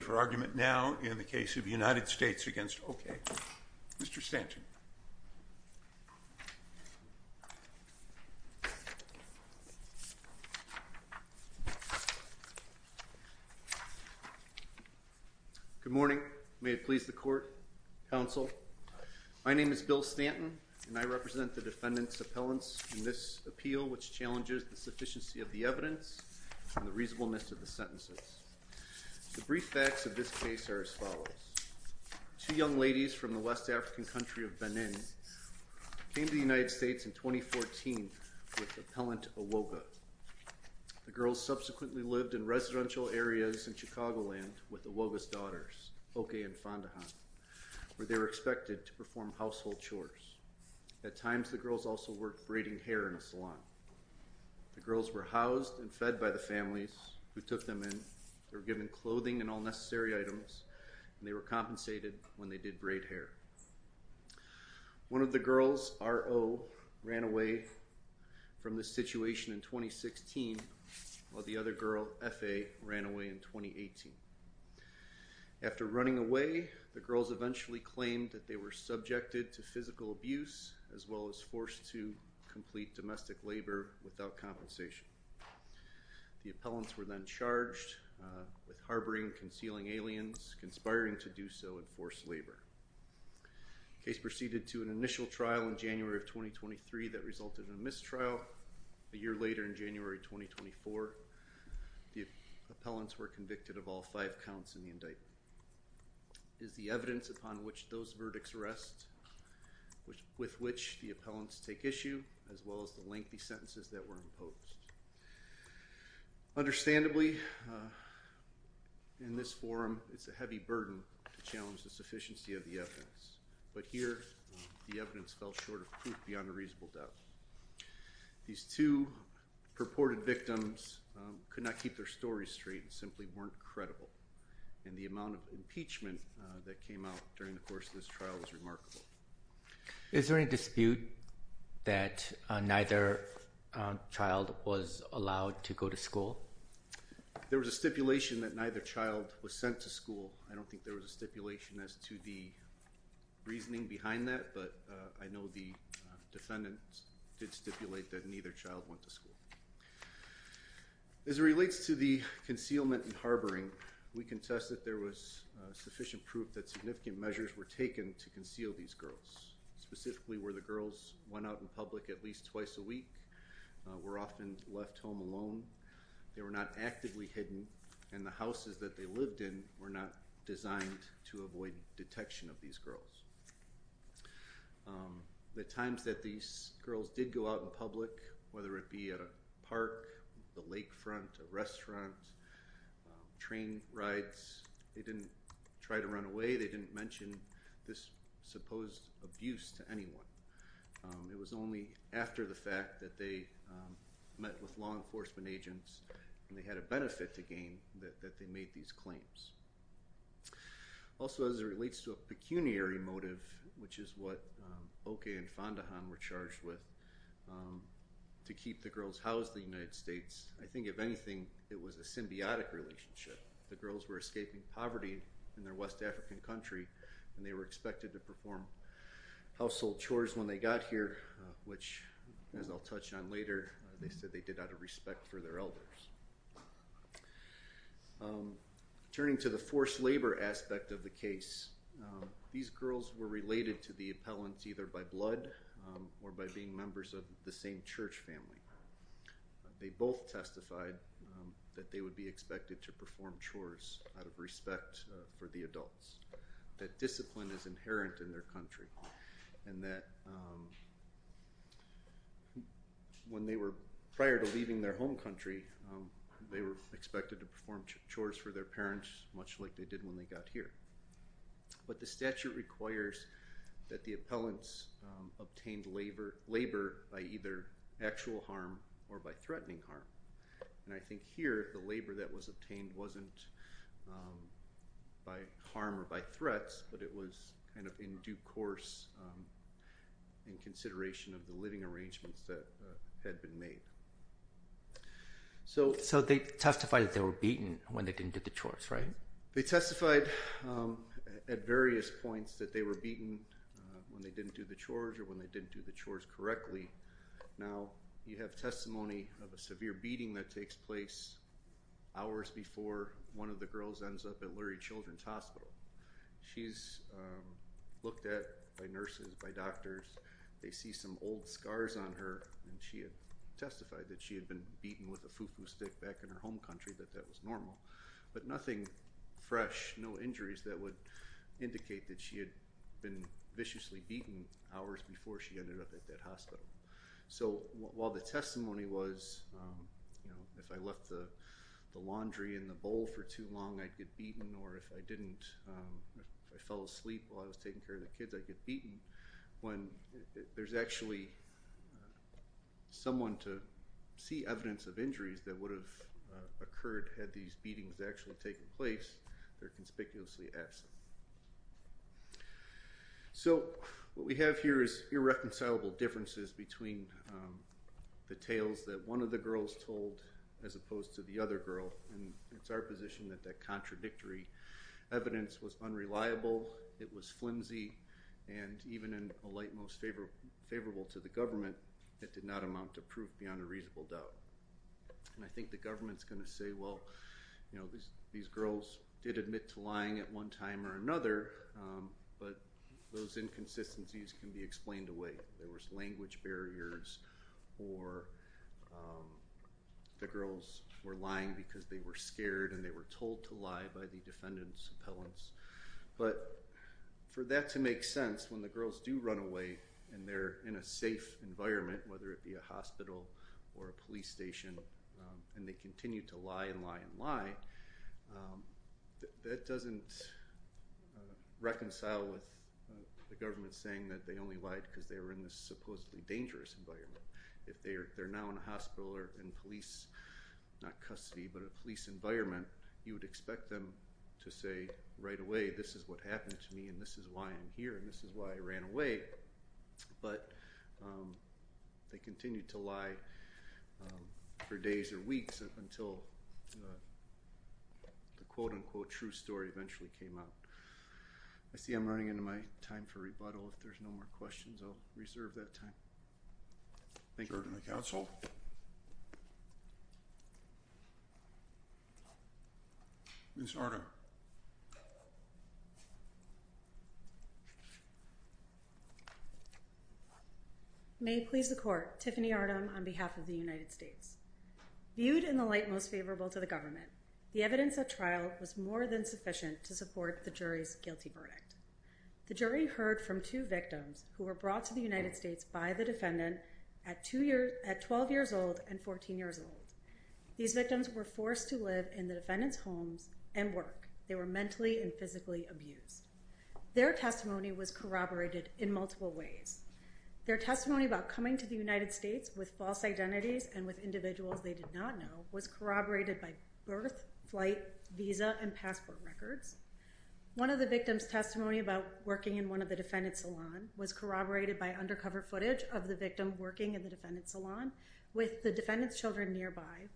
for argument now in the case of the United States against Oke. Mr. Stanton. Good morning. May it please the court, counsel. My name is Bill Stanton and I represent the defendant's appellants in this appeal which challenges the sufficiency of the evidence and the reasonableness of the sentences. The facts of this case are as follows. Two young ladies from the West African country of Benin came to the United States in 2014 with appellant Awoga. The girls subsequently lived in residential areas in Chicagoland with Awoga's daughters, Oke and Fandahan, where they were expected to perform household chores. At times the girls also worked braiding hair in a salon. The girls were housed and fed by the families who took them in. They were given clothing and all necessary items and they were compensated when they did braid hair. One of the girls, RO, ran away from this situation in 2016 while the other girl, FA, ran away in 2018. After running away, the girls eventually claimed that they were subjected to physical abuse as well as forced to complete domestic labor without compensation. The appellants were then charged with harboring concealing aliens, conspiring to do so in forced labor. The case proceeded to an initial trial in January of 2023 that resulted in a mistrial. A year later, in January 2024, the appellants were convicted of all five counts in the indictment. It is the evidence upon which those verdicts rest, with which the appellants take issue, as well as the lengthy sentences that were imposed. Understandably, in this forum, it's a heavy burden to challenge the sufficiency of the evidence, but here the evidence fell short of proof beyond a reasonable doubt. These two purported victims could not keep their stories straight and simply weren't credible, and the amount of impeachment that came out during the course of this trial was remarkable. Is there any dispute that neither child was allowed to go to school? There was a stipulation that neither child was sent to school. I don't think there was a stipulation as to the reasoning behind that, but I know the defendant did stipulate that neither child went to school. As it relates to the concealment and harboring, we contest that there was sufficient proof that significant measures were taken to conceal these girls. Specifically, where the girls went out in public at least twice a week, were often left home alone, they were not actively hidden, and the houses that they lived in were not designed to avoid detection of these girls. The times that these girls did go out in public, whether it be at a park, the lakefront, a restaurant, train rides, they didn't try to run away, they didn't mention this supposed abuse to anyone. It was only after the fact that they met with law enforcement agents and they had a benefit to gain that they made these claims. Also, as it relates to a pecuniary motive, which is what Okeh and Fandahan were charged with to keep the girls housed in the United States, I think if anything it was a symbiotic relationship. The girls were escaping poverty in their West African country and they were expected to perform household chores when they got here, which as I'll touch on later, they said they did out of respect for their elders. Turning to the forced labor aspect of the case, these girls were related to the appellants either by blood or by being members of the same church family. They both testified that they would be expected to perform chores out of respect for the adults, that discipline is inherent in their country, and that when they were prior to leaving their home country, they were expected to perform chores for their parents much like they did when they got here. But the statute requires that the appellants obtained labor by either actual harm or by threatening harm, and I think here the labor that was obtained wasn't by harm or by threats, but it was kind of in due course in consideration of the living arrangements that had been made. So they testified that they were beaten when they didn't do the chores, right? They testified at various points that they were beaten when they didn't do the chores or when they didn't do the chores correctly. Now you have testimony of a severe beating that takes place hours before one of the girls ends up at Lurie Children's Hospital. She's looked at by nurses, by doctors. They see some old scars on her and she had testified that she had been beaten with a fufu stick back in her home country, that that was normal, but nothing fresh, no injuries that would indicate that she had been viciously beaten hours before she ended up at that hospital. So while the testimony was, you know, if I left the laundry in the bowl for too long I'd get beaten, or if I didn't, if I fell asleep while I was taking care of the kids I'd get beaten, when there's actually someone to see evidence of injuries that would have occurred had these beatings actually taken place, they're conspicuously absent. So what we have here is irreconcilable differences between the tales that one of the girls told as opposed to the other girl, and it's our position that that contradictory evidence was unreliable, it was flimsy, and even in a light most favorable to the government, it did not amount to proof beyond a reasonable doubt. And I think the government's going to say, well, you know, these girls did admit to lying at one time or another, but those inconsistencies can be explained away. There was language barriers, or the girls were lying because they were scared and they were told to lie by the defendant's appellants, but for that to make sense when the girls do run away and they're in a safe environment, whether it be a hospital or a police station, and they continue to lie and lie and lie, that doesn't reconcile with the government saying that they only lied because they were in this supposedly dangerous environment. If they're now in a hospital or in police, not custody, but a police environment, you would expect them to say right away, this is what happened to me and this is why I'm here and this is why I ran away, but they continued to lie for days or weeks until the quote-unquote true story eventually came out. I see I'm running into my time for rebuttal. If there's no more questions, I'll reserve that time. Thank you. Thank you, Your Honor and the Counsel. Ms. Ardham. May it please the Court, Tiffany Ardham on behalf of the United States. Viewed in the light most favorable to the government, the evidence at trial was more than sufficient to support the jury's guilty verdict. The jury heard from two victims who were brought to the United States by the defendant at 12 years old and 14 years old. These victims were forced to live in the defendant's homes and work. They were mentally and physically abused. Their testimony was corroborated in multiple ways. Their testimony about coming to the United States with false identities and with individuals they did not know was corroborated by birth, flight, visa, and passport records. One of the victims' testimony about working in one of the defendant's salons was corroborated by undercover footage of the victim working in the defendant's salon with the defendant's children nearby.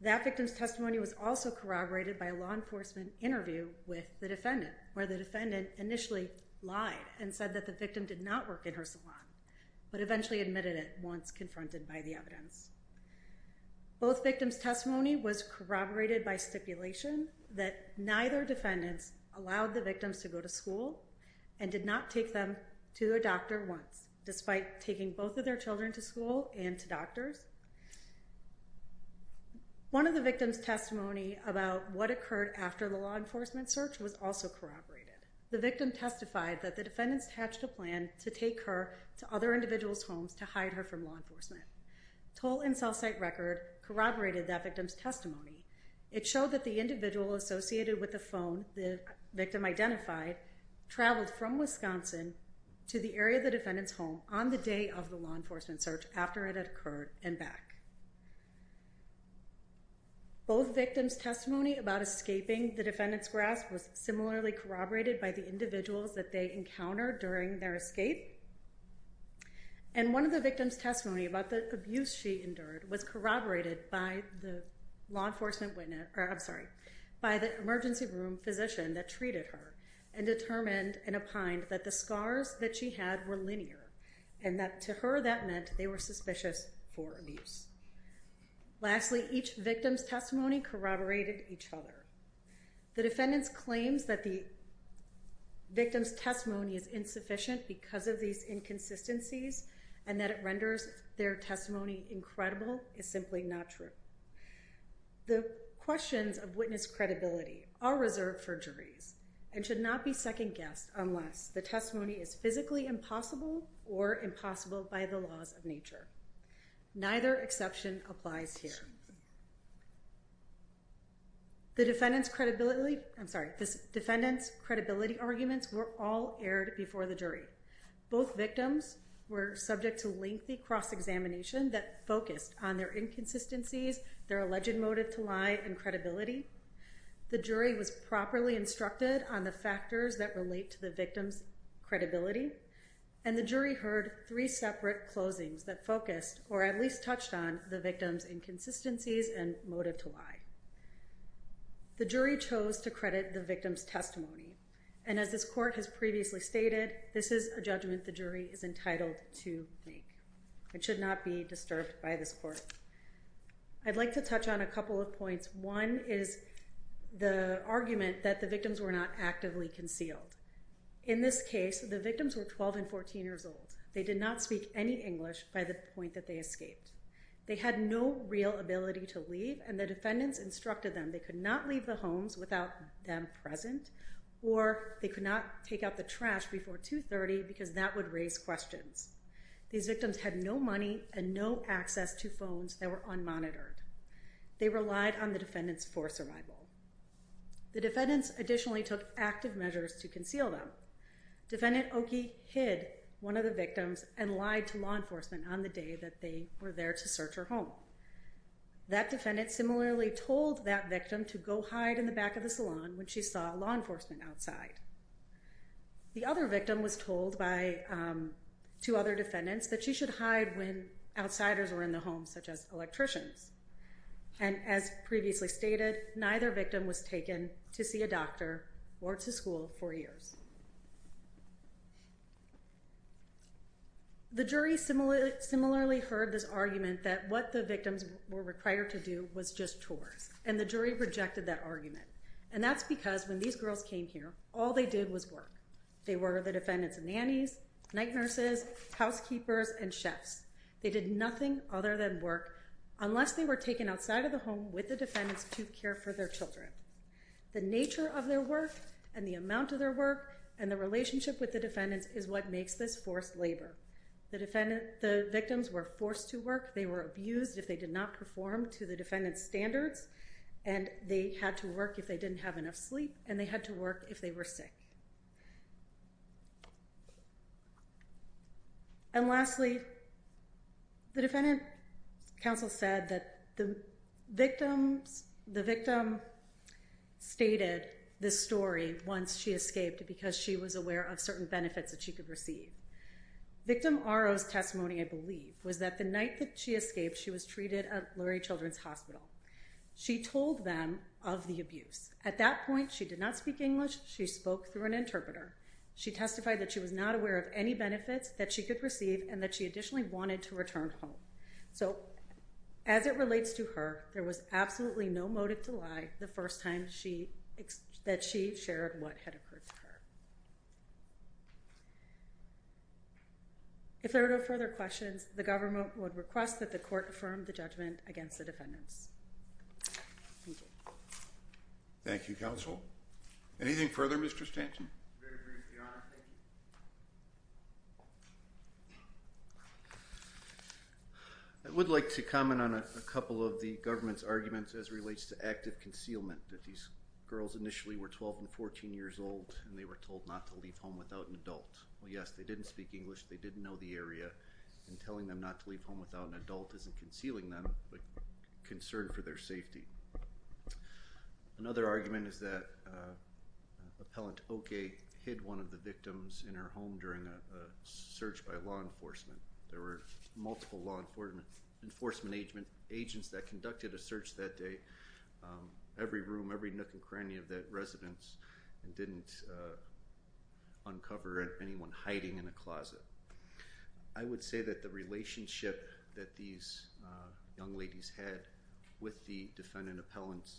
That victim's testimony was also corroborated by a law enforcement interview with the defendant where the defendant initially lied and said that the victim did not work in her salon but eventually admitted it once confronted by the evidence. Both victims' testimony was corroborated by stipulation that neither defendants allowed the victims to go to school and did not take them to a doctor once, despite taking both of their children to school and to doctors. One of the victims' testimony about what occurred after the law enforcement search was also corroborated. The victim testified that the defendants hatched a plan to take her to other individuals' homes to hide her from law enforcement. Toll and cell site record corroborated that victim's testimony. It showed that the individual associated with the phone the victim identified traveled from Wisconsin to the area of the defendant's home on the day of the law enforcement search after it had occurred and back. Both victims' testimony about escaping the defendant's grasp was similarly corroborated by the individuals that they encountered during their escape. And one of the victims' testimony about the abuse she endured was corroborated by the law enforcement witness, or I'm sorry, by the emergency room physician that treated her and determined and opined that the scars that she had were linear and that to her that meant they were suspicious for abuse. Lastly, each victim's testimony corroborated each other. The defendants' claims that the victim's testimony is insufficient because of these inconsistencies and that it renders their testimony incredible is simply not true. The questions of witness credibility are reserved for juries and should not be second-guessed unless the testimony is physically impossible or impossible by the laws of nature. Neither exception applies here. The defendants' credibility, I'm sorry, this defendants' credibility arguments were all aired before the jury. Both victims were subject to lengthy cross-examination that focused on their inconsistencies, their alleged motive to lie, and credibility. The jury was properly instructed on the factors that relate to the victim's credibility, and the jury heard three separate closings that focused, or at least touched on, the victim's inconsistencies and motive to lie. The jury chose to credit the victim's testimony, and as this court has previously stated, this is a judgment the jury is entitled to make. It should not be disturbed by this court. I'd like to touch on a couple of points. One is the argument that the victims were not actively concealed. In this case, the victims were 12 and 14 years old. They did not speak any English by the point that they escaped. They had no real ability to leave, and the defendants instructed them they could not leave the homes without them present, or they could not take out the trash before 2.30 because that would raise questions. These victims had no money and no access to phones that were unmonitored. They relied on the defendants for survival. The defendants additionally took active measures to conceal them. Defendant Oki hid one of the victims and lied to law enforcement on the day that they were there to search her home. That defendant similarly told that victim to go hide in the back of the salon when she saw law enforcement outside. The other victim was told by two other defendants that she should hide when outsiders were in the home, such as electricians. And as previously stated, neither victim was taken to see a doctor or to school for years. The jury similarly heard this argument that what the victims were required to do was just chores, and the jury rejected that argument. And that's because when these came here, all they did was work. They were the defendants' nannies, night nurses, housekeepers, and chefs. They did nothing other than work unless they were taken outside of the home with the defendants to care for their children. The nature of their work, and the amount of their work, and the relationship with the defendants is what makes this forced labor. The victims were forced to work. They were abused if they did not perform to the defendants' standards, and they had to work if they didn't have enough sleep, and they had to work if they were sick. And lastly, the defendant's counsel said that the victim stated this story once she escaped because she was aware of certain benefits that she could receive. Victim Aro's testimony, I believe, was that the night that she escaped, she was treated at Lurie Children's Hospital. She told them of the abuse. At that point, she did not speak English. She spoke through an interpreter. She testified that she was not aware of any benefits that she could receive, and that she additionally wanted to return home. So as it relates to her, there was absolutely no motive to lie the first time that she shared what had occurred to her. If there are no further questions, the government would request that the court affirm the judgment against the defendants. Thank you. Thank you, Counsel. Anything further, Mr. Stanton? Very briefly, Your Honor. Thank you. I would like to comment on a couple of the government's arguments as relates to active concealment, that these girls initially were 12 and 14 years old, and they were told not to leave home without an adult. Well, yes, they didn't speak English. They didn't know the area, and telling them not to leave home without an adult isn't concealing them, but concern for their safety. Another argument is that Appellant Oakey hid one of the victims in her home during a search by law enforcement. There were multiple law enforcement agents that conducted a search that day, every room, every nook and cranny of that residence, and didn't uncover anyone hiding in a closet. I would say that the relationship that these young ladies had with the defendant appellants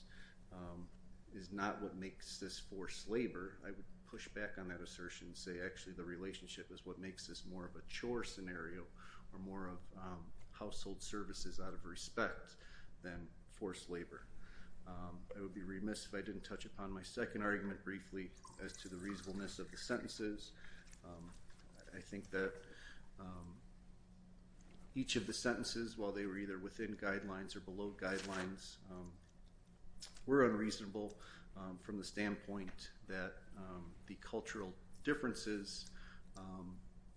is not what makes this forced labor. I would push back on that assertion and say actually the relationship is what makes this more of a chore scenario or more of household services out of respect than forced labor. I would be remiss if I didn't touch upon my second argument briefly as to the reasonableness of the sentences. I think that each of the sentences, while they were either within guidelines or below guidelines, were unreasonable from the standpoint that the cultural differences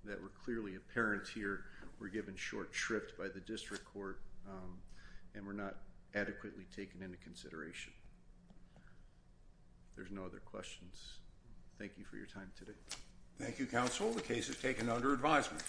that were clearly apparent here were given short shrift by the district court and were not adequately taken into consideration. If there's no other questions, thank you for your time today. Thank you, counsel. The case is taken under advisement.